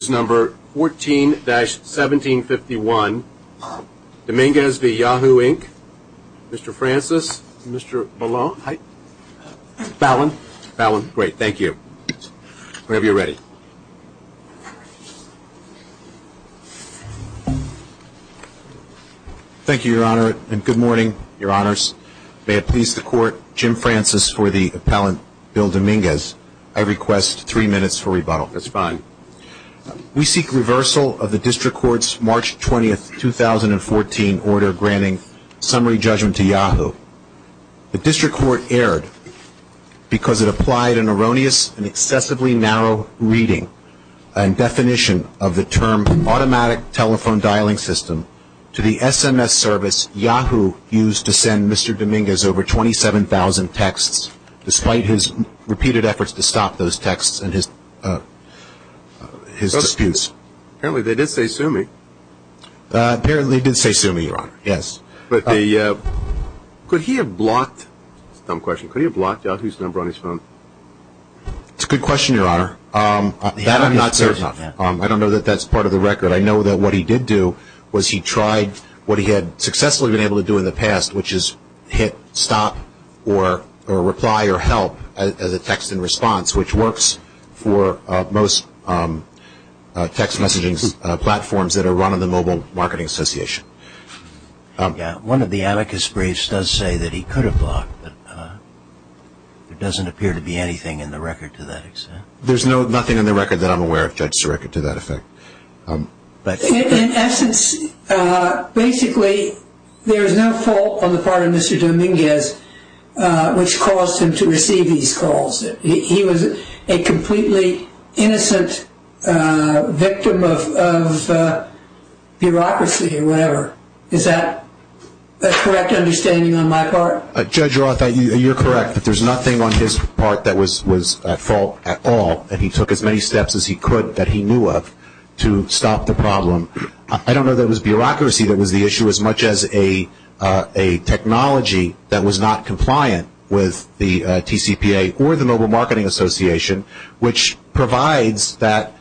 Mr. Francis, Mr. Ballon, Ballon, Ballon. Great, thank you. Whenever you're ready. Thank you, Your Honor, and good morning, Your Honors. May it please the Court, Jim Francis for the appellant, Bill Dominguez. I request three minutes for rebuttal. That's fine. We seek reversal of the District Court's March 20, 2014 order granting summary judgment to Yahoo. The District Court erred because it applied an erroneous and excessively narrow reading and definition of the term automatic telephone dialing system to the SMS service Yahoo used to send Mr. Dominguez over 27,000 texts, despite his repeated efforts to stop those texts and his disputes. Apparently they did say Sumi. Apparently they did say Sumi, Your Honor, yes. But the, could he have blocked, dumb question, could he have blocked Yahoo's number on his phone? It's a good question, Your Honor. That I'm not certain of. I don't know that that's part of the record. I know that what he did do was he tried what he had successfully been able to do in the past, which is hit stop or reply or help as a text in response, which works for most text messaging platforms that are run on the Mobile Marketing Association. Yeah, one of the amicus briefs does say that he could have blocked, but there doesn't appear to be anything in the record to that extent. There's no, nothing in the record that I'm aware of, Judge Sirica, to that effect. In essence, basically there is no fault on the part of Mr. Dominguez, which caused him to receive these calls. He was a completely innocent victim of, of bureaucracy or whatever. Is that a correct understanding on my part? Judge Roth, you're correct, but there's nothing on his part that was, was at fault at all. And he took as many steps as he could that he knew of to stop the problem. I don't know that it was bureaucracy that was the issue as much as a, a technology that was not compliant with the TCPA or the Mobile Marketing Association, which provides that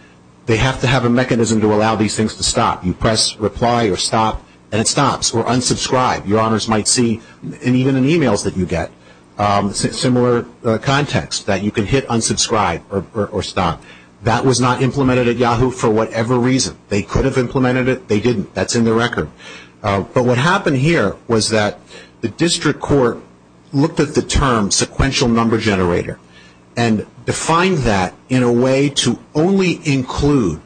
they have to have a mechanism to allow these things to stop. You press reply or stop and it stops or unsubscribe. Your honors might see, even in emails that you get, similar context that you can hit unsubscribe or stop. That was not implemented at Yahoo for whatever reason. They could have implemented it. They didn't. That's in the record. But what happened here was that the district court looked at the term sequential number generator and defined that in a way to only include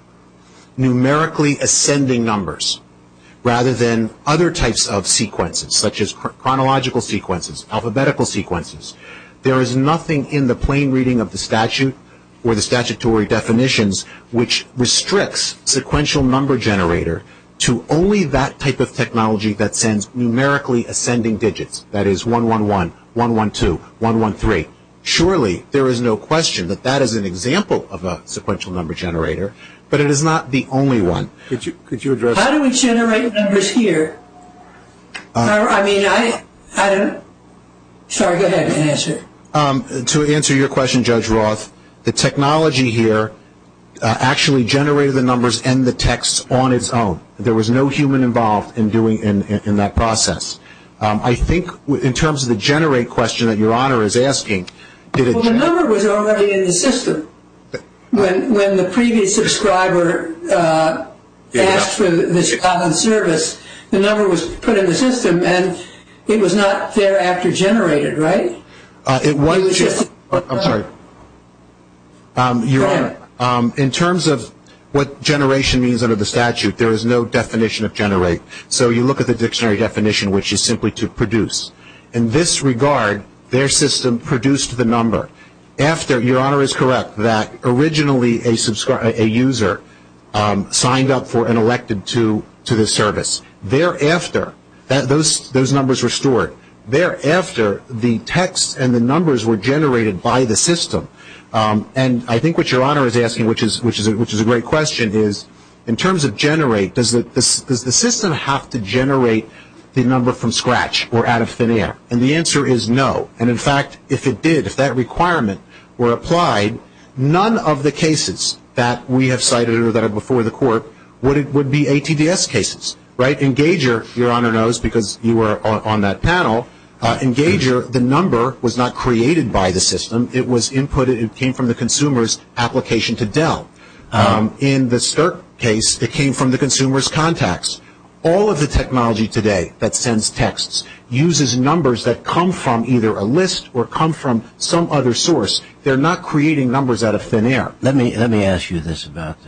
numerically ascending numbers rather than other types of sequences such as chronological sequences, alphabetical sequences. There is nothing in the plain reading of the statute or the statutory definitions which restricts sequential number generator to only that type of technology that sends numerically ascending digits. That is 111, 112, 113. Surely there is no question that that is an example of a sequential number generator, but it is not the only one. Could you address? How do we generate numbers here? I mean, I don't. Sorry, go ahead and answer. To answer your question, Judge Roth, the technology here actually generated the numbers and the text on its own. There was no human involved in doing, in that process. I think in terms of the generate question that your honor is asking. Well, the number was already in the system. When the previous subscriber asked for this common service, the number was put in the system and it was not thereafter generated, right? It was just. I'm sorry. Go ahead. Your honor, in terms of what generation means under the statute, there is no definition of generate. So you look at the dictionary definition which is simply to produce. In this regard, their system produced the number. After, your honor is correct, that originally a user signed up for and elected to this service. Thereafter, those numbers were stored. Thereafter, the text and the numbers were generated by the system. I think what your honor is asking, which is a great question, is in terms of generate, does the system have to generate the number from scratch or out of thin air? The answer is no. In fact, if it did, if that requirement were applied, none of the cases that we have cited or that are before the court would be ATDS cases, right? Engager, your honor knows because you were on that panel, Engager, the number was not created by the system. It was input. It came from the consumer's application to Dell. In the Stirk case, it came from the consumer's contacts. All of the technology today that sends texts uses numbers that come from either a list or come from some other source. They're not creating numbers out of thin air. Let me ask you this about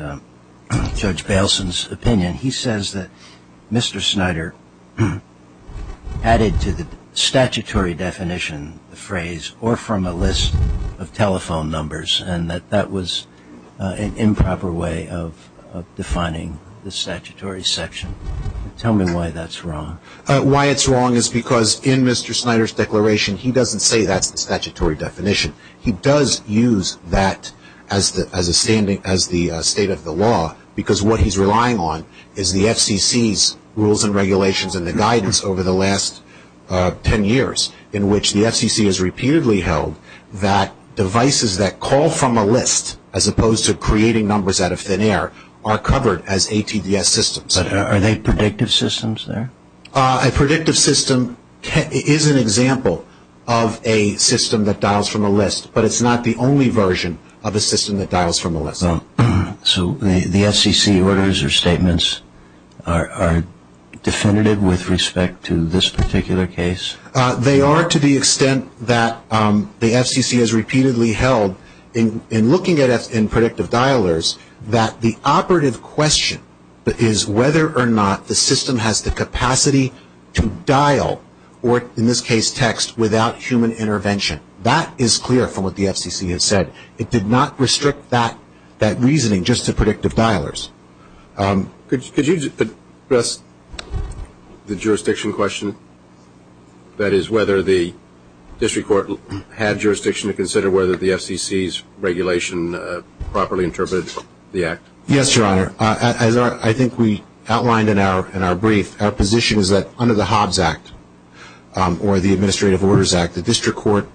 Judge Bailson's opinion. He says that Mr. Snyder added to the statutory definition the phrase, or from a list of telephone numbers, and that that was an improper way of defining the statutory section. Tell me why that's wrong. Why it's wrong is because in Mr. Snyder's declaration, he doesn't say that's the statutory definition. He does use that as a standing, as the state of the law, because what he's relying on is the FCC's rules and regulations and the guidance over the last ten years in which the FCC has repeatedly held that devices that call from a list, as opposed to creating numbers out of thin air, are covered as ATDS systems. But are they predictive systems there? A predictive system is an example of a system that dials from a list, but it's not the only version of a system that dials from a list. So the FCC orders or statements are definitive with respect to this particular case? They are to the extent that the FCC has repeatedly held, in looking at it in predictive dialers, that the operative question is whether or not the system has the capacity to dial, or in this case text, without human intervention. That is clear from what the FCC has said. It did not restrict that reasoning just to predictive dialers. Could you address the jurisdiction question? That is, whether the district court had jurisdiction to consider whether the FCC's regulation properly interpreted the act? Yes, Your Honor. As I think we outlined in our brief, our position is that under the Hobbs Act, or the Administrative Orders Act, the district court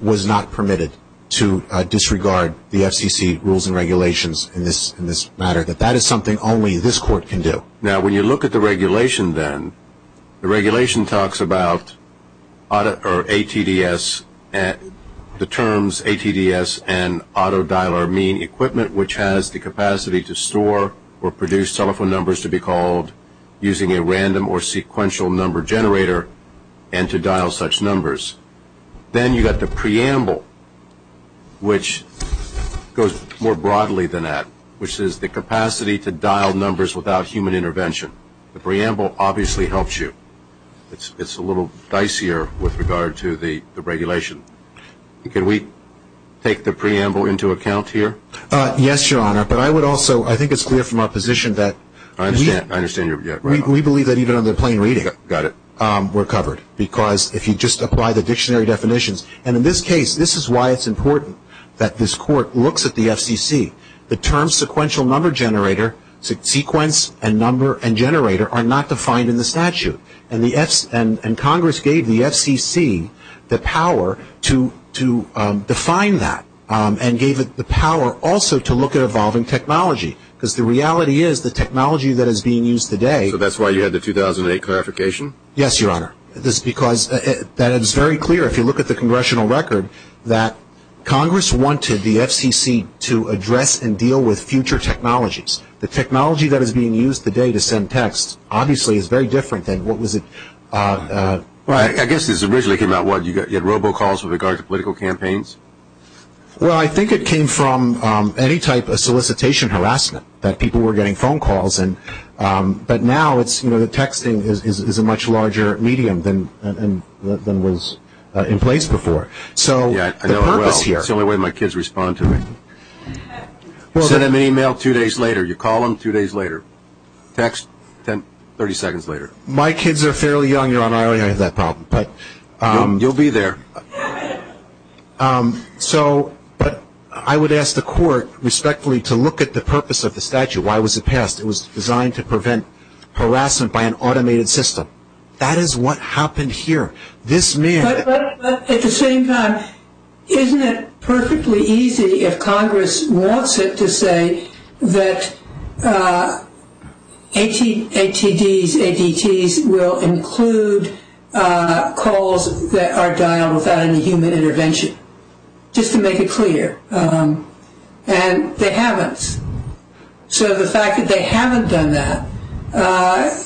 was not permitted to disregard the FCC rules and regulations in this matter. That that is something only this court can do. Now when you look at the regulation then, the regulation talks about ATDS, and the FCC determines ATDS and auto dialer mean equipment, which has the capacity to store or produce telephone numbers to be called using a random or sequential number generator, and to dial such numbers. Then you have the preamble, which goes more broadly than that, which is the capacity to dial numbers without human intervention. The preamble obviously helps you. It is a little more complicated than that. Could we take the preamble into account here? Yes, Your Honor. But I would also, I think it is clear from our position that we believe that even on the plain reading, we are covered. Because if you just apply the dictionary definitions, and in this case, this is why it is important that this court looks at the FCC. The term sequential number generator, sequence and number and generator are not defined in the preamble. So the FCC was able to define that, and gave it the power also to look at evolving technology. Because the reality is, the technology that is being used today So that is why you had the 2008 clarification? Yes, Your Honor. Because that is very clear if you look at the congressional record, that Congress wanted the FCC to address and deal with future technologies. The technology that is being used today to send texts, obviously is very different than what was it I guess this originally came out, what, you had robocalls with regard to political campaigns? Well, I think it came from any type of solicitation harassment that people were getting phone calls. But now, texting is a much larger medium than was in place before. Yes, I know it well. It is the only way my kids respond to me. Send them an email two days later. You call them two days later. Text 30 seconds later. My kids are fairly young, Your Honor. I already have that problem. You will be there. So, but I would ask the court respectfully to look at the purpose of the statute. Why was it passed? It was designed to prevent harassment by an automated system. That is what happened here. This man At the same time, isn't it perfectly easy if Congress wants it to say that ATDs, ADTs will include calls that are dialed without any human intervention? Just to make it clear. And they haven't. So the fact that they haven't done that,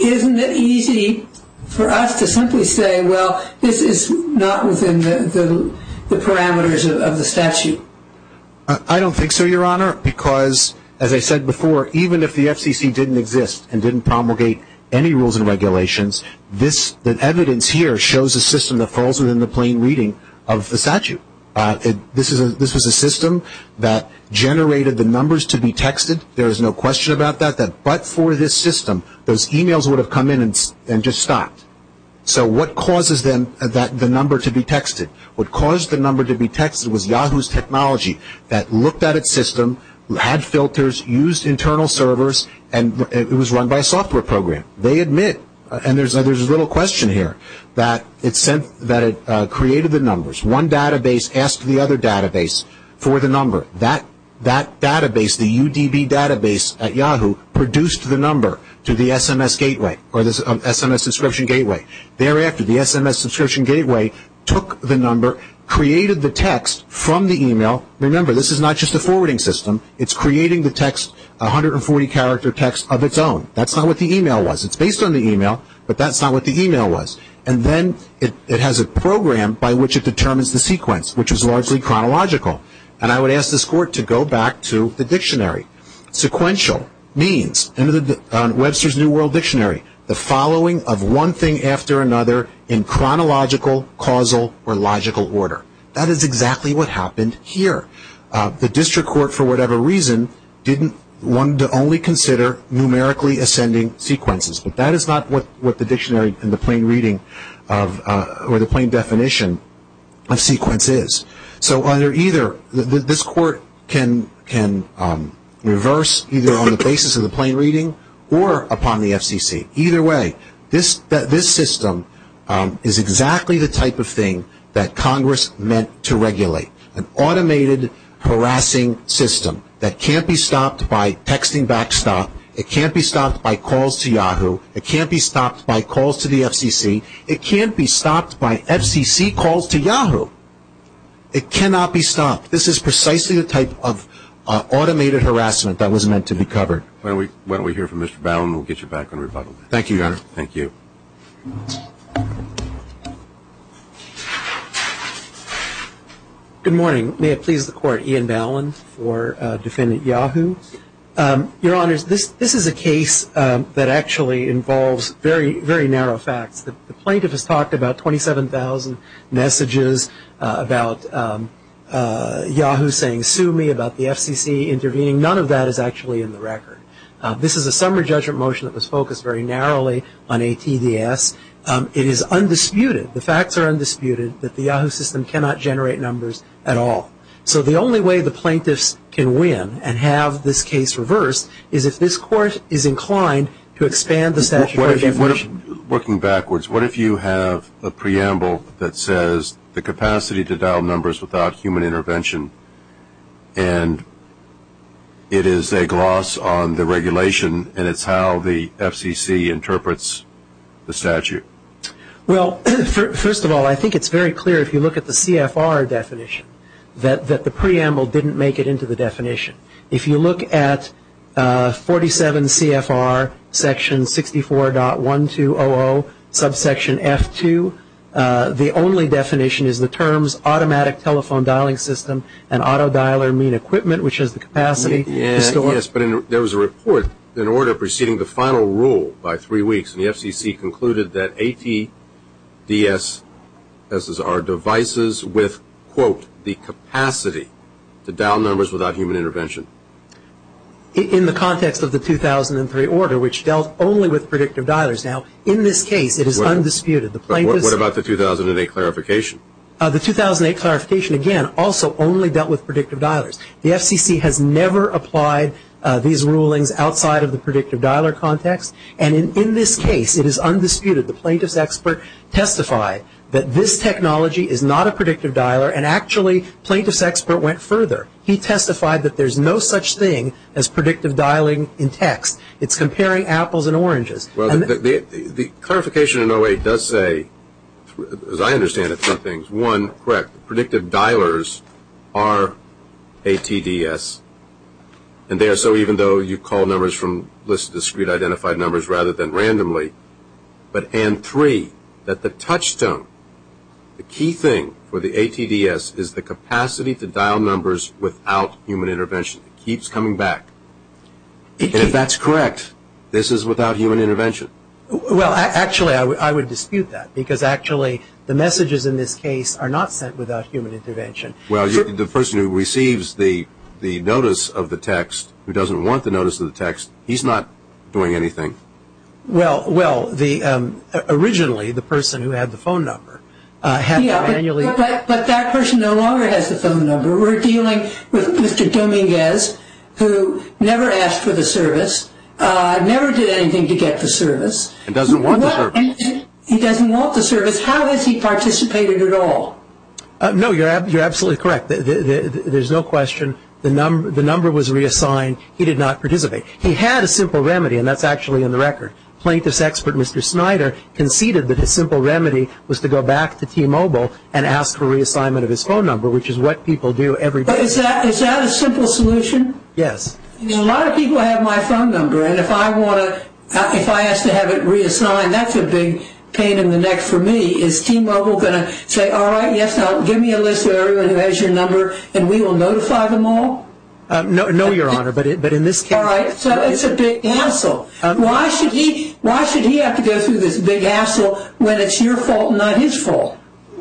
isn't it easy for us to simply say, well, this is not within the parameters of the statute? I don't think so, Your Honor. Because, as I said before, even if the FCC didn't exist and didn't promulgate any rules and regulations, the evidence here shows a system that falls within the plain reading of the statute. This was a system that generated the numbers to be texted. There is no question about that. But for this system, those emails would have come in and just stopped. So what causes the number to be texted? What caused the number to be texted was Yahoo's technology that looked at its system, had filters, used internal servers, and it was run by a software program. They admit, and there is a little question here, that it created the numbers. One database asked the other database for the number. That database, the UDB database at Yahoo, produced the number to the SMS gateway, or the SMS subscription gateway. Thereafter, the SMS subscription gateway took the number, created the text from the email. Remember, this is not just a forwarding system. It's creating the text, 140-character text of its own. That's not what the email was. It's based on the email, but that's not what the email was. And then it has a program by which it determines the sequence, which is largely chronological. And I would ask this court to go back to the dictionary. Sequential means, Webster's New World Dictionary, the following of one thing after another in chronological, causal, or logical order. That is exactly what happened here. The district court, for whatever reason, wanted to only consider numerically ascending sequences, but that is not what the dictionary in the plain reading, or the plain definition of sequence is. So either, this court can reverse, either on the basis of the plain reading, or upon the FCC. Either way, this system is exactly the type of thing that Congress meant to regulate. An automated harassing system that can't be stopped by texting back to Yahoo. It can't be stopped by calls to Yahoo. It can't be stopped by calls to the FCC. It can't be stopped by FCC calls to Yahoo. It cannot be stopped. This is precisely the type of automated harassment that was meant to be covered. Why don't we hear from Mr. Ballin, and we'll get you back on rebuttal. Thank you, Your Honor. Thank you. Good morning. May it please the Court, Ian Ballin for Defendant Yahoo. Your Honors, this is a case that actually involves very narrow facts. The plaintiff has talked about 27,000 messages about Yahoo saying sue me, about the FCC intervening. None of that is actually in the record. This is a summary judgment motion that was focused very narrowly on ATDS. It is undisputed, the facts are undisputed, that the Yahoo system cannot generate numbers at all. So the only way the plaintiffs can win and have this case reversed is if this Court is inclined to expand the statutory definition. Working backwards, what if you have a preamble that says the capacity to dial numbers without human intervention, and it is a gloss on the regulation, and it's how the FCC interprets the statute? Well, first of all, I think it's very clear if you look at the CFR definition that the preamble didn't make it into the definition. If you look at 47 CFR section 64.1200 subsection F2, the only definition is the terms automatic telephone dialing system and auto dialer mean equipment, which is the capacity. Yes, but there was a report in order preceding the final rule by three weeks, and the FCC concluded that ATDS, this is our devices with, quote, the capacity to dial numbers without human intervention. In the context of the 2003 order, which dealt only with predictive dialers. Now, in this case, it is undisputed. What about the 2008 clarification? The 2008 clarification, again, also only dealt with predictive dialers. The FCC has never applied these rulings outside of the predictive dialer context, and in this case, it is undisputed. The plaintiff's expert testified that this technology is not a predictive dialer, and actually, plaintiff's expert went further. He testified that there's no such thing as predictive dialing in text. It's comparing apples and oranges. Well, the clarification in 08 does say, as I understand it, two things. One, correct, predictive dialers are ATDS, and they are so even though you call numbers from lists of discrete identified numbers rather than randomly, but, and three, that the touchstone, the key thing for the ATDS is the capacity to dial numbers without human intervention. It keeps coming back. If that's correct, this is without human intervention? Well, actually, I would dispute that because, actually, the messages in this case are not sent without human intervention. Well, the person who receives the notice of the text who doesn't want the notice of the text, he's not doing anything. Well, well, the, originally, the person who had the phone number had to manually But that person no longer has the phone number. We're dealing with Mr. Dominguez who never asked for the service, never did anything to get the service. He doesn't want the service. He doesn't want the service. How has he participated at all? No, you're absolutely correct. There's no question. The number was reassigned. He did not participate. He had a simple remedy, and that's actually in the record. Plaintiff's Snyder conceded that his simple remedy was to go back to T-Mobile and ask for reassignment of his phone number, which is what people do every day. Is that a simple solution? Yes. A lot of people have my phone number, and if I want to, if I ask to have it reassigned, that's a big pain in the neck for me. Is T-Mobile going to say, all right, yes, give me a list of everyone who has your number, and we will notify them all? No, Your Honor, but in this case All right, so it's a big hassle. Why should he have to go through this big hassle when it's your fault and not his fault?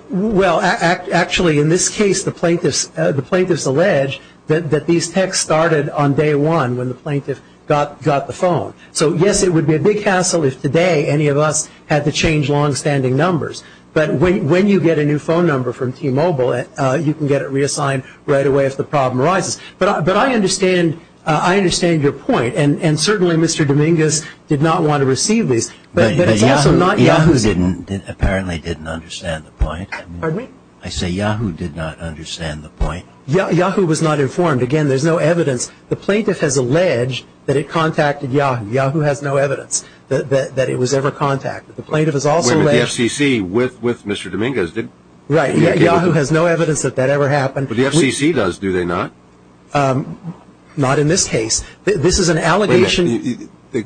Well, actually, in this case, the plaintiffs allege that these texts started on day one when the plaintiff got the phone. So, yes, it would be a big hassle if today any of us had to change longstanding numbers, but when you get a new phone number from T-Mobile, you can get it reassigned right away if the problem arises. But I understand your point, and certainly Mr. Dominguez did not want to receive these, but it's also not Yahoo apparently didn't understand the point. Pardon me? I say Yahoo did not understand the point. Yahoo was not informed. Again, there's no evidence. The plaintiff has alleged that it contacted Yahoo. Yahoo has no evidence that it was ever contacted. The plaintiff has also alleged Wait a minute. The FCC with Mr. Dominguez did Right. Yahoo has no evidence that that ever happened. But the FCC does, do they not? Not in this case. This is an allegation The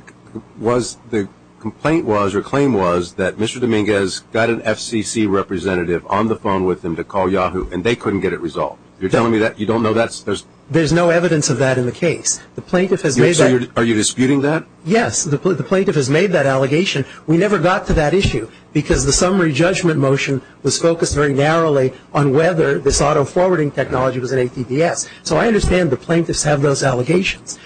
complaint was, or claim was, that Mr. Dominguez got an FCC representative on the phone with him to call Yahoo, and they couldn't get it resolved. You're telling me that you don't know that's There's no evidence of that in the case. The plaintiff has made that Are you disputing that? Yes. The plaintiff has made that allegation. We never got to that issue because the summary judgment motion was focused very narrowly on whether this auto-forwarding technology was an ATVS. So I understand the plaintiffs have those allegations.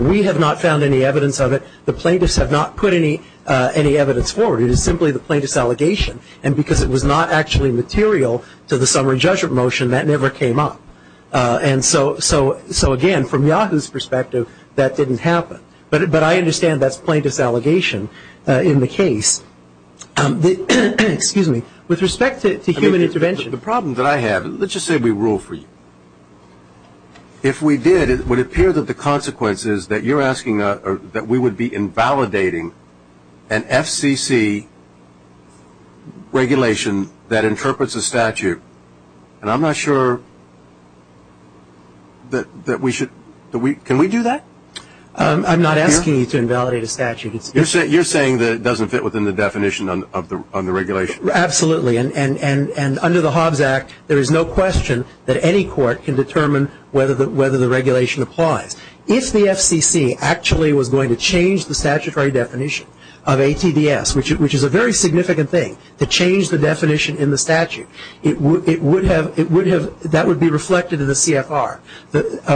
We have not found any evidence of it. The plaintiffs have not put any evidence forward. It is simply the plaintiff's allegation. And because it was not actually material to the summary judgment motion, that never came up. And so again, from Yahoo's perspective, that didn't happen. But I understand that's the plaintiff's allegation in the case. Excuse me. With respect to human intervention The problem that I have, let's just say we rule for you. If we did, it would appear that the consequences that you're asking that we would be invalidating an FCC regulation that interprets a statute. And I'm not sure that we should, can we do that? I'm not asking you to invalidate a statute. You're saying that it doesn't fit within the definition of the regulation? Absolutely. And under the Hobbs Act, there is no question that any court can determine whether the regulation applies. If the FCC actually was going to change the statutory definition of ATVS, which is a very significant thing, to change the definition in the statute, that would be reflected in the CFR.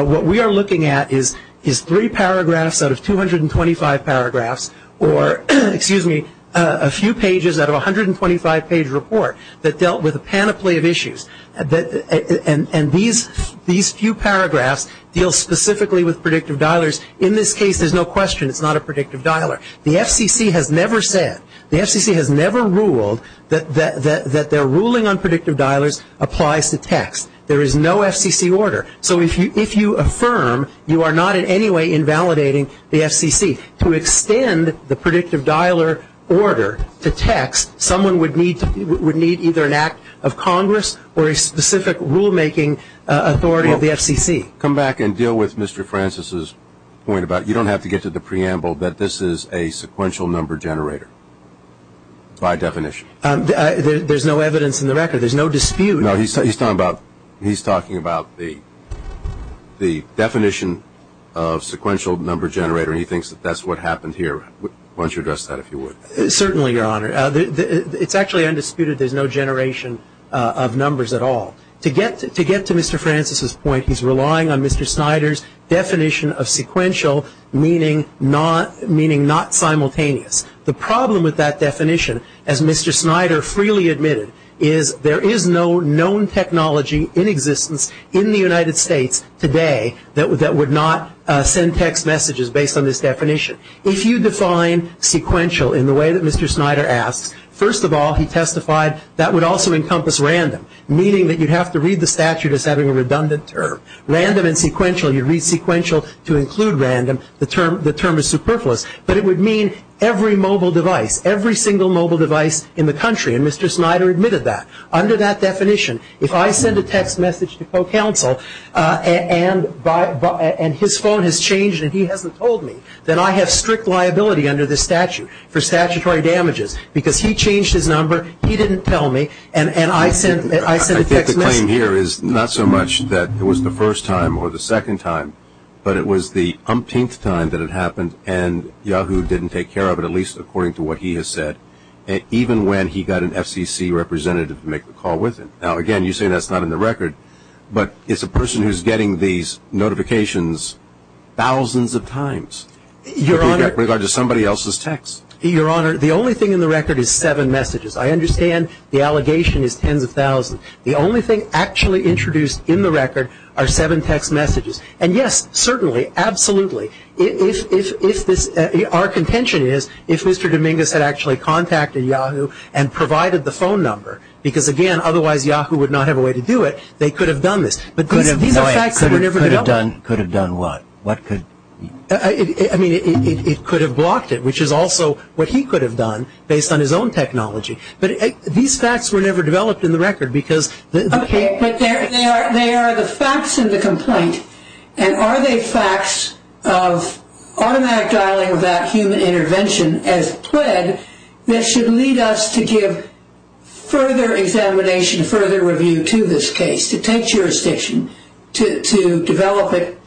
What we are looking at is three paragraphs out of 225 paragraphs, or a few pages out of a 125-page report that dealt with a panoply of issues. And these few paragraphs deal specifically with predictive dialers. In this case, there's no question it's not a predictive dialer. The FCC has never said, the FCC has never ruled that their ruling on predictive dialers applies to text. There is no FCC order. So if you affirm, you are not in any way invalidating the FCC. To extend the predictive dialer order to text, someone would need either an act of Congress or a specific rulemaking authority of the FCC. Come back and deal with Mr. Francis's point about you don't have to get to the preamble, that this is a sequential number generator by definition. There's no evidence in the record. There's no dispute. No, he's talking about the definition of sequential number generator, and he thinks that that's what happened here. Why don't you address that, if you would. Certainly, Your Honor. It's actually undisputed there's no generation of numbers at all. To get to Mr. Francis's point, he's relying on Mr. Snyder's definition of sequential meaning not simultaneous. The problem with that definition, as Mr. Snyder freely admitted, is there is no known technology in existence in the United States today that would not send text messages based on this definition. If you define sequential in the way that Mr. Snyder asks, first of all, he testified, that would also encompass random, meaning that you'd have to read the statute as having a redundant term. Random and sequential, you read sequential to include random, the term is superfluous. But it would mean every mobile device, every single mobile device in the country, and Mr. Snyder admitted that. Under that definition, if I send a text message to co-counsel and his phone has changed and he hasn't told me, then I have strict liability under this statute for statutory damages, because he changed his number, he didn't tell me, and I sent a text message. I think the claim here is not so much that it was the first time or the second time, but it was the umpteenth time that it happened, and Yahoo didn't take care of it, at least according to what he has said, even when he got an FCC representative to make the call with him. Now, again, you say that's not in the record, but it's a person who's getting these notifications thousands of times. Your Honor. With regard to somebody else's text. Your Honor, the only thing in the record is seven messages. I understand the allegation is tens of thousands. The only thing actually introduced in the record are seven text messages. And, yes, certainly, absolutely. Our contention is if Mr. Dominguez had actually contacted Yahoo and provided the phone number, because, again, otherwise Yahoo would not have a way to do it, they could have done this. But these are facts that were never developed. Could have done what? I mean, it could have blocked it, which is also what he could have done based on his own technology. But these facts were never developed in the record because the case. Okay, but they are the facts in the complaint. And are they facts of automatic dialing of that human intervention, as pled, that should lead us to give further examination, further review to this case, to take jurisdiction, to develop it,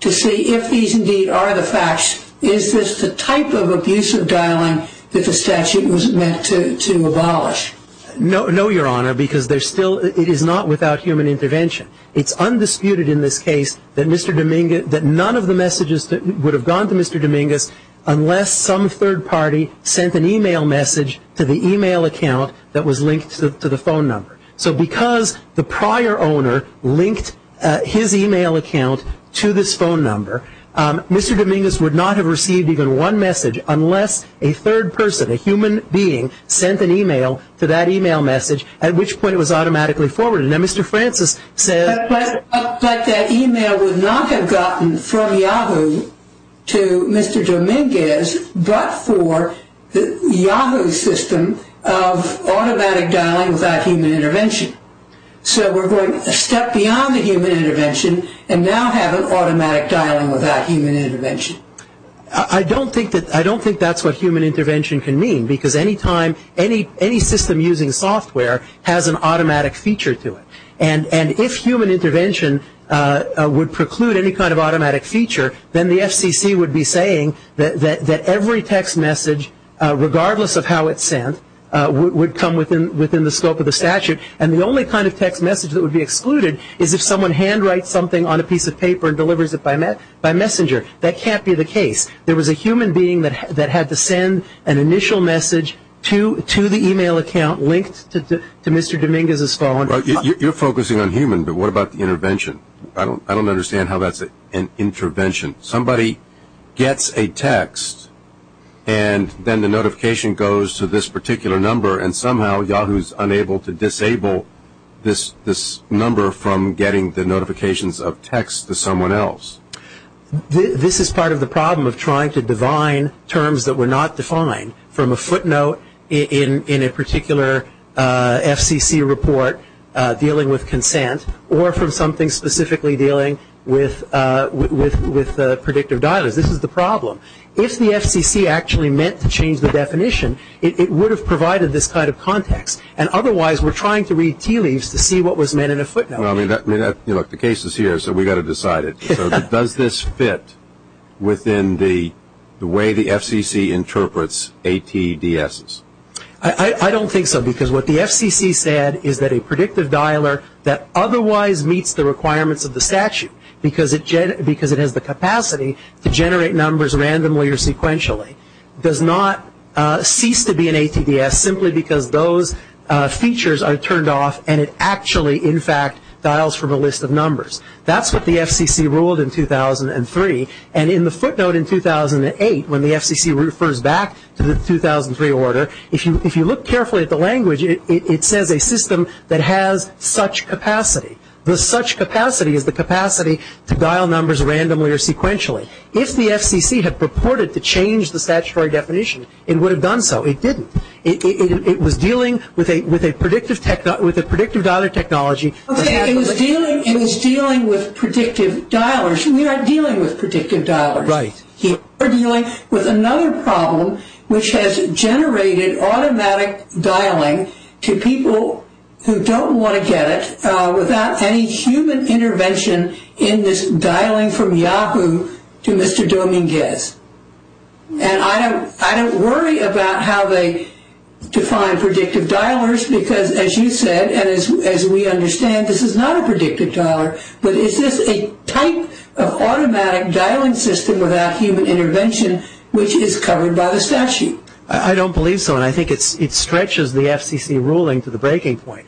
to see if these indeed are the facts. Is this the type of abusive dialing that the statute was meant to abolish? No, Your Honor, because it is not without human intervention. It's undisputed in this case that none of the messages would have gone to Mr. Dominguez unless some third party sent an e-mail message to the e-mail account that was linked to the phone number. So because the prior owner linked his e-mail account to this phone number, Mr. Dominguez would not have received even one message unless a third person, a human being, sent an e-mail to that e-mail message, at which point it was automatically forwarded. Now, Mr. Francis says- But that e-mail would not have gotten from Yahoo to Mr. Dominguez but for the Yahoo system of automatic dialing without human intervention. So we're going a step beyond the human intervention and now have an automatic dialing without human intervention. I don't think that's what human intervention can mean because any system using software has an automatic feature to it. And if human intervention would preclude any kind of automatic feature, then the FCC would be saying that every text message, regardless of how it's sent, would come within the scope of the statute and the only kind of text message that would be excluded is if someone handwrites something on a piece of paper and delivers it by messenger. That can't be the case. There was a human being that had to send an initial message to the e-mail account linked to Mr. Dominguez's phone. You're focusing on human, but what about the intervention? I don't understand how that's an intervention. Somebody gets a text and then the notification goes to this particular number and somehow Yahoo's unable to disable this number from getting the notifications of text to someone else. This is part of the problem of trying to divine terms that were not defined from a footnote in a particular FCC report dealing with consent or from something specifically dealing with predictive dialers. This is the problem. If the FCC actually meant to change the definition, it would have provided this kind of context, and otherwise we're trying to read tea leaves to see what was meant in a footnote. The case is here, so we've got to decide it. Does this fit within the way the FCC interprets ATDSs? I don't think so because what the FCC said is that a predictive dialer that otherwise meets the requirements of the statute because it has the capacity to generate numbers randomly or sequentially does not cease to be an ATDS simply because those features are turned off and it actually, in fact, dials from a list of numbers. That's what the FCC ruled in 2003. And in the footnote in 2008 when the FCC refers back to the 2003 order, if you look carefully at the language, it says a system that has such capacity. The such capacity is the capacity to dial numbers randomly or sequentially. If the FCC had purported to change the statutory definition, it would have done so. It didn't. It was dealing with a predictive dialer technology. Okay, it was dealing with predictive dialers. We are dealing with predictive dialers. Right. We're dealing with another problem which has generated automatic dialing to people who don't want to get it without any human intervention in this dialing from Yahoo to Mr. Dominguez. And I don't worry about how they define predictive dialers because, as you said, and as we understand, this is not a predictive dialer, but is this a type of automatic dialing system without human intervention which is covered by the statute? I don't believe so, and I think it stretches the FCC ruling to the breaking point.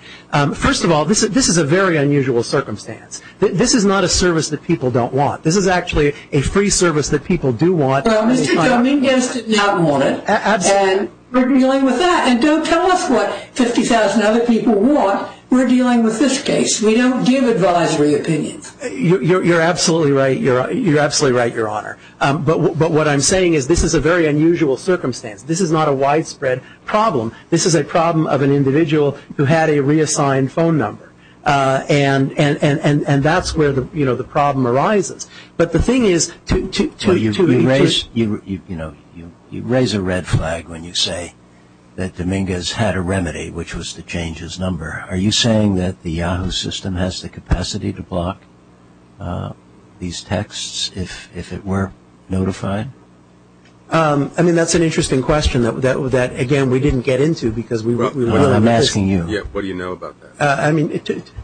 First of all, this is a very unusual circumstance. This is not a service that people don't want. This is actually a free service that people do want. Well, Mr. Dominguez did not want it, and we're dealing with that. And don't tell us what 50,000 other people want. We're dealing with this case. We don't give advisory opinions. You're absolutely right, Your Honor. But what I'm saying is this is a very unusual circumstance. This is not a widespread problem. This is a problem of an individual who had a reassigned phone number. And that's where, you know, the problem arises. But the thing is to erase, you know, you raise a red flag when you say that Dominguez had a remedy, which was to change his number. Are you saying that the Yahoo system has the capacity to block these texts if it were notified? I mean, that's an interesting question that, again, we didn't get into because we were. I'm asking you. Yeah, what do you know about that? I mean,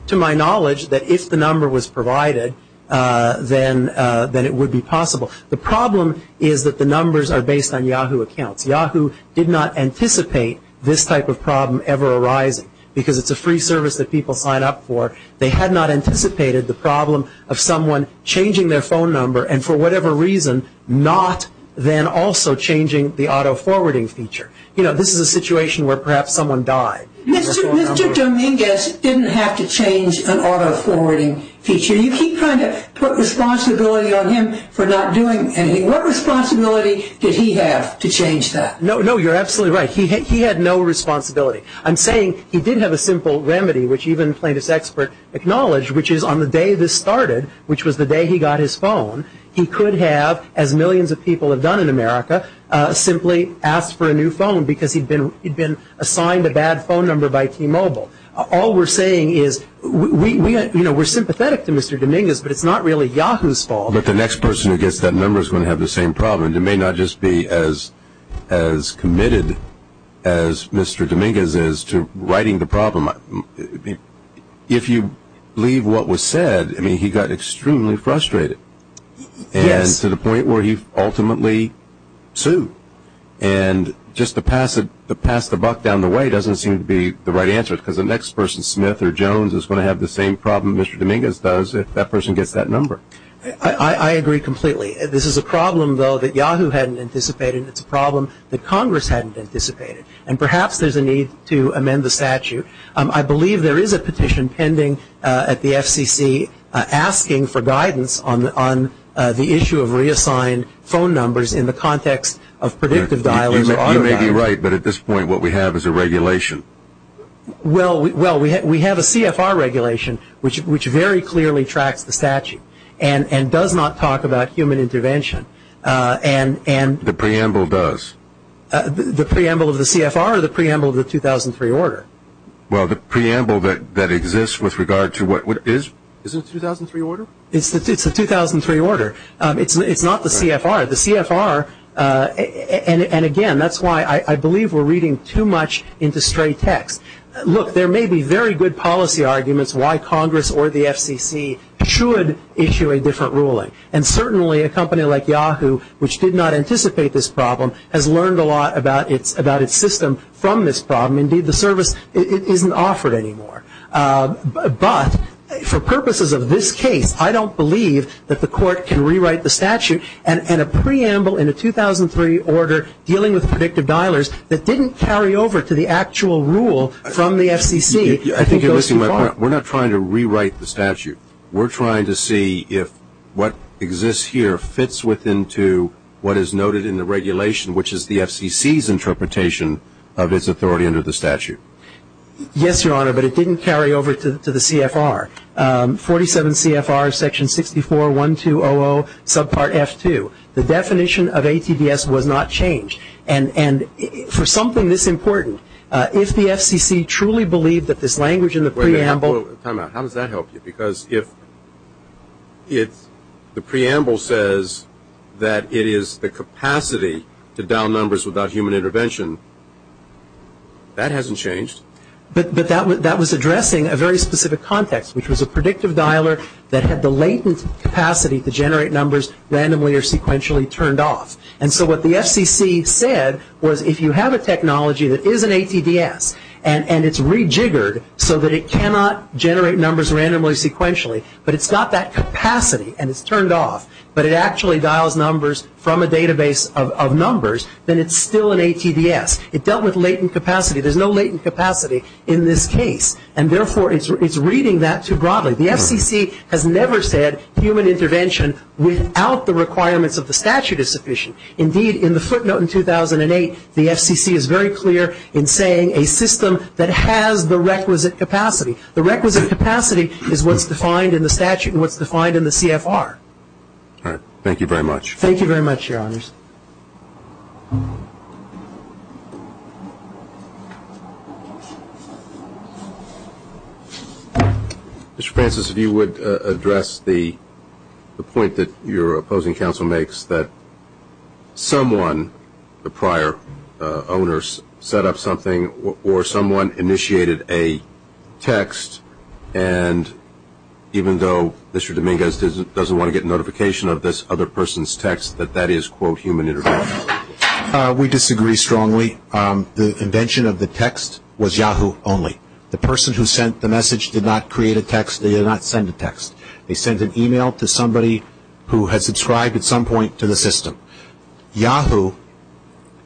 to my knowledge, that if the number was provided, then it would be possible. The problem is that the numbers are based on Yahoo accounts. Yahoo did not anticipate this type of problem ever arising because it's a free service that people sign up for. They had not anticipated the problem of someone changing their phone number and for whatever reason not then also changing the auto-forwarding feature. You know, this is a situation where perhaps someone died. Mr. Dominguez didn't have to change an auto-forwarding feature. You keep trying to put responsibility on him for not doing anything. What responsibility did he have to change that? No, no, you're absolutely right. He had no responsibility. I'm saying he did have a simple remedy, which even Plaintiff's expert acknowledged, which is on the day this started, which was the day he got his phone, he could have, as millions of people have done in America, simply asked for a new phone because he'd been assigned a bad phone number by T-Mobile. All we're saying is we're sympathetic to Mr. Dominguez, but it's not really Yahoo's fault. But the next person who gets that number is going to have the same problem. It may not just be as committed as Mr. Dominguez is to righting the problem. If you believe what was said, I mean, he got extremely frustrated. Yes. And to the point where he ultimately sued. And just to pass the buck down the way doesn't seem to be the right answer because the next person, Smith or Jones, is going to have the same problem Mr. Dominguez does if that person gets that number. I agree completely. This is a problem, though, that Yahoo hadn't anticipated. It's a problem that Congress hadn't anticipated. And perhaps there's a need to amend the statute. I believe there is a petition pending at the FCC asking for guidance on the issue of reassigned phone numbers in the context of predictive dialing. You may be right, but at this point what we have is a regulation. Well, we have a CFR regulation which very clearly tracks the statute and does not talk about human intervention. The preamble does. The preamble of the CFR or the preamble of the 2003 order? Well, the preamble that exists with regard to what is the 2003 order? It's the 2003 order. It's not the CFR. The CFR, and again, that's why I believe we're reading too much into straight text. Look, there may be very good policy arguments why Congress or the FCC should issue a different ruling. And certainly a company like Yahoo, which did not anticipate this problem, has learned a lot about its system from this problem. Indeed, the service isn't offered anymore. But for purposes of this case, I don't believe that the court can rewrite the statute and a preamble in a 2003 order dealing with predictive dialers that didn't carry over to the actual rule from the FCC. I think you're missing my point. We're not trying to rewrite the statute. We're trying to see if what exists here fits within to what is noted in the regulation, which is the FCC's interpretation of its authority under the statute. Yes, Your Honor, but it didn't carry over to the CFR. 47 CFR section 64-1200 subpart F2. The definition of ATBS was not changed. And for something this important, if the FCC truly believed that this language in the preamble How does that help you? Because if the preamble says that it is the capacity to dial numbers without human intervention, that hasn't changed. But that was addressing a very specific context, which was a predictive dialer that had the latent capacity to generate numbers randomly or sequentially turned off. And so what the FCC said was if you have a technology that is an ATBS and it's rejiggered so that it cannot generate numbers randomly or sequentially, but it's got that capacity and it's turned off, but it actually dials numbers from a database of numbers, then it's still an ATBS. It dealt with latent capacity. There's no latent capacity in this case. And therefore, it's reading that too broadly. The FCC has never said human intervention without the requirements of the statute is sufficient. Indeed, in the footnote in 2008, the FCC is very clear in saying a system that has the requisite capacity. The requisite capacity is what's defined in the statute and what's defined in the CFR. All right. Thank you very much. Thank you very much, Your Honors. Thank you. Mr. Francis, if you would address the point that your opposing counsel makes that someone, the prior owners, set up something or someone initiated a text, and even though Mr. Dominguez doesn't want to get notification of this other person's text, that that is, quote, human intervention. We disagree strongly. The invention of the text was Yahoo only. The person who sent the message did not create a text. They did not send a text. They sent an email to somebody who had subscribed at some point to the system. Yahoo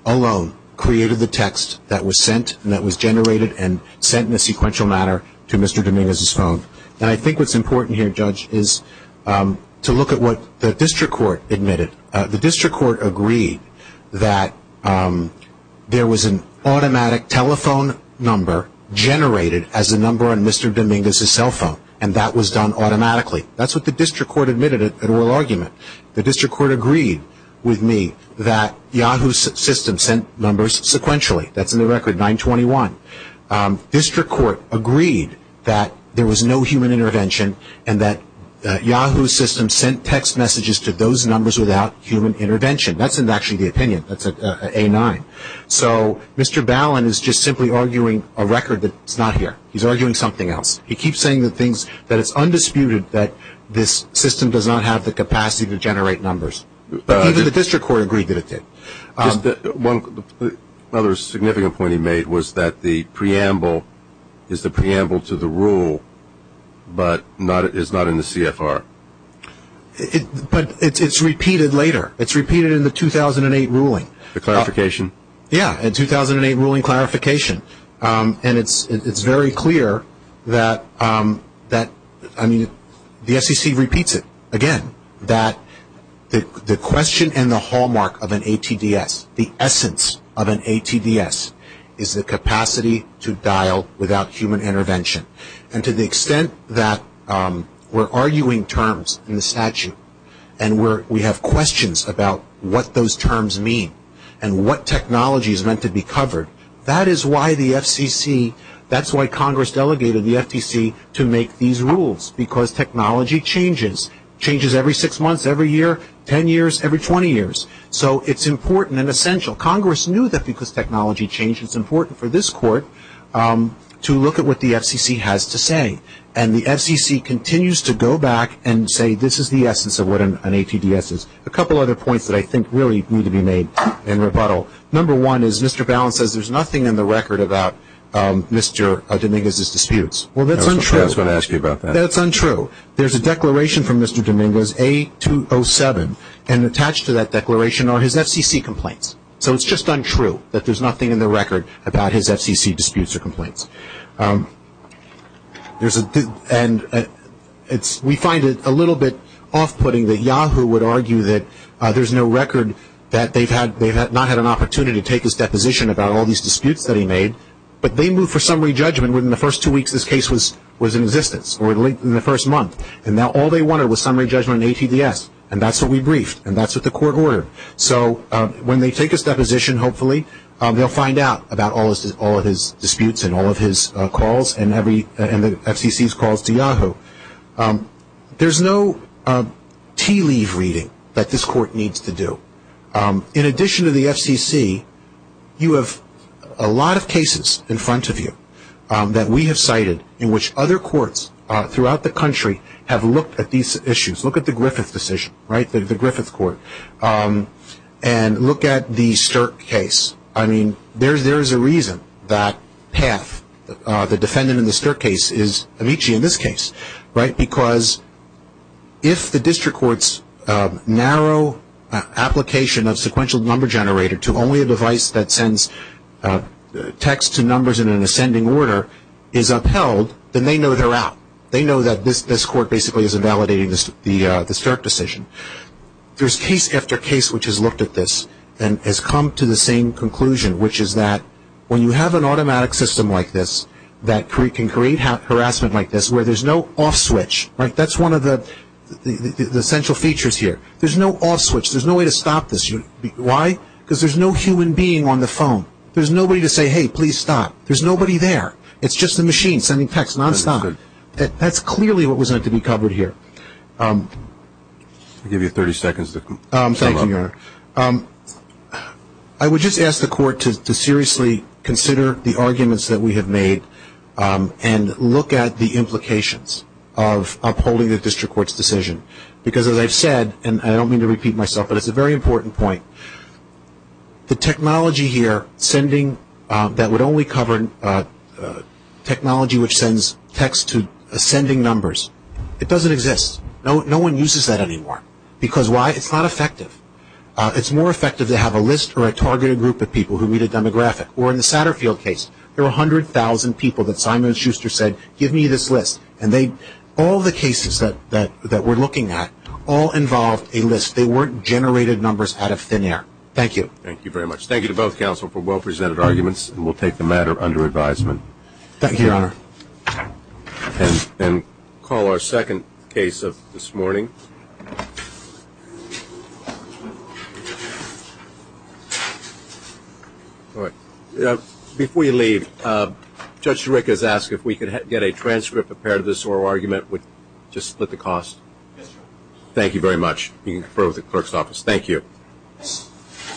alone created the text that was sent and that was generated and sent in a sequential manner to Mr. Dominguez's phone. And I think what's important here, Judge, is to look at what the district court admitted. The district court agreed that there was an automatic telephone number generated as a number on Mr. Dominguez's cell phone, and that was done automatically. That's what the district court admitted at oral argument. The district court agreed with me that Yahoo's system sent numbers sequentially. That's in the record, 921. District court agreed that there was no human intervention and that Yahoo's system sent text messages to those numbers without human intervention. That's actually the opinion. That's at A9. So Mr. Ballin is just simply arguing a record that's not here. He's arguing something else. He keeps saying that it's undisputed that this system does not have the capacity to generate numbers. But even the district court agreed that it did. One other significant point he made was that the preamble is the preamble to the rule but is not in the CFR. But it's repeated later. It's repeated in the 2008 ruling. The clarification? Yeah, the 2008 ruling clarification. And it's very clear that, I mean, the SEC repeats it again, that the question and the hallmark of an ATDS, the essence of an ATDS, is the capacity to dial without human intervention. And to the extent that we're arguing terms in the statute and we have questions about what those terms mean and what technology is meant to be covered, that is why the FCC, that's why Congress delegated the FTC to make these rules, because technology changes. It changes every six months, every year, ten years, every 20 years. So it's important and essential. Congress knew that because technology changed it's important for this court to look at what the FCC has to say. And the FCC continues to go back and say this is the essence of what an ATDS is. A couple other points that I think really need to be made in rebuttal. Number one is Mr. Bowne says there's nothing in the record about Mr. Dominguez's disputes. Well, that's untrue. I was going to ask you about that. That's untrue. There's a declaration from Mr. Dominguez, A207, and attached to that declaration are his FCC complaints. So it's just untrue that there's nothing in the record about his FCC disputes or complaints. And we find it a little bit off-putting that Yahoo would argue that there's no record that they've not had an opportunity to take his deposition about all these disputes that he made, but they moved for summary judgment within the first two weeks this case was in existence, or in the first month. And now all they wanted was summary judgment on ATDS, and that's what we briefed, and that's what the court ordered. So when they take his deposition, hopefully, they'll find out about all of his disputes and all of his calls and the FCC's calls to Yahoo. There's no tea-leaf reading that this court needs to do. In addition to the FCC, you have a lot of cases in front of you that we have cited in which other courts throughout the country have looked at these issues. Look at the Griffith decision, right, the Griffith court. And look at the Stirk case. I mean, there's a reason that Path, the defendant in the Stirk case, is Amici in this case, right, because if the district court's narrow application of sequential number generator to only a device that sends text to numbers in an ascending order is upheld, then they know they're out. They know that this court basically is invalidating the Stirk decision. There's case after case which has looked at this and has come to the same conclusion, which is that when you have an automatic system like this that can create harassment like this where there's no off switch, right, that's one of the essential features here. There's no off switch. There's no way to stop this. Why? Because there's no human being on the phone. There's nobody to say, hey, please stop. There's nobody there. It's just a machine sending text nonstop. That's clearly what was meant to be covered here. I'll give you 30 seconds to come up. Thank you, Your Honor. I would just ask the court to seriously consider the arguments that we have made and look at the implications of upholding the district court's decision. Because as I've said, and I don't mean to repeat myself, but it's a very important point, the technology here sending that would only cover technology which sends text to ascending numbers, it doesn't exist. No one uses that anymore. Because why? It's not effective. It's more effective to have a list or a targeted group of people who read a demographic. Or in the Satterfield case, there were 100,000 people that Simon and Schuster said, give me this list. And all the cases that we're looking at all involved a list. They weren't generated numbers out of thin air. Thank you. Thank you very much. Thank you to both counsel for well-presented arguments. And we'll take the matter under advisement. Thank you, Your Honor. And call our second case of this morning. Before you leave, Judge Sirica has asked if we could get a transcript of part of this oral argument, just split the cost. Yes, Your Honor. Thank you very much. You can confer with the clerk's office. Thank you.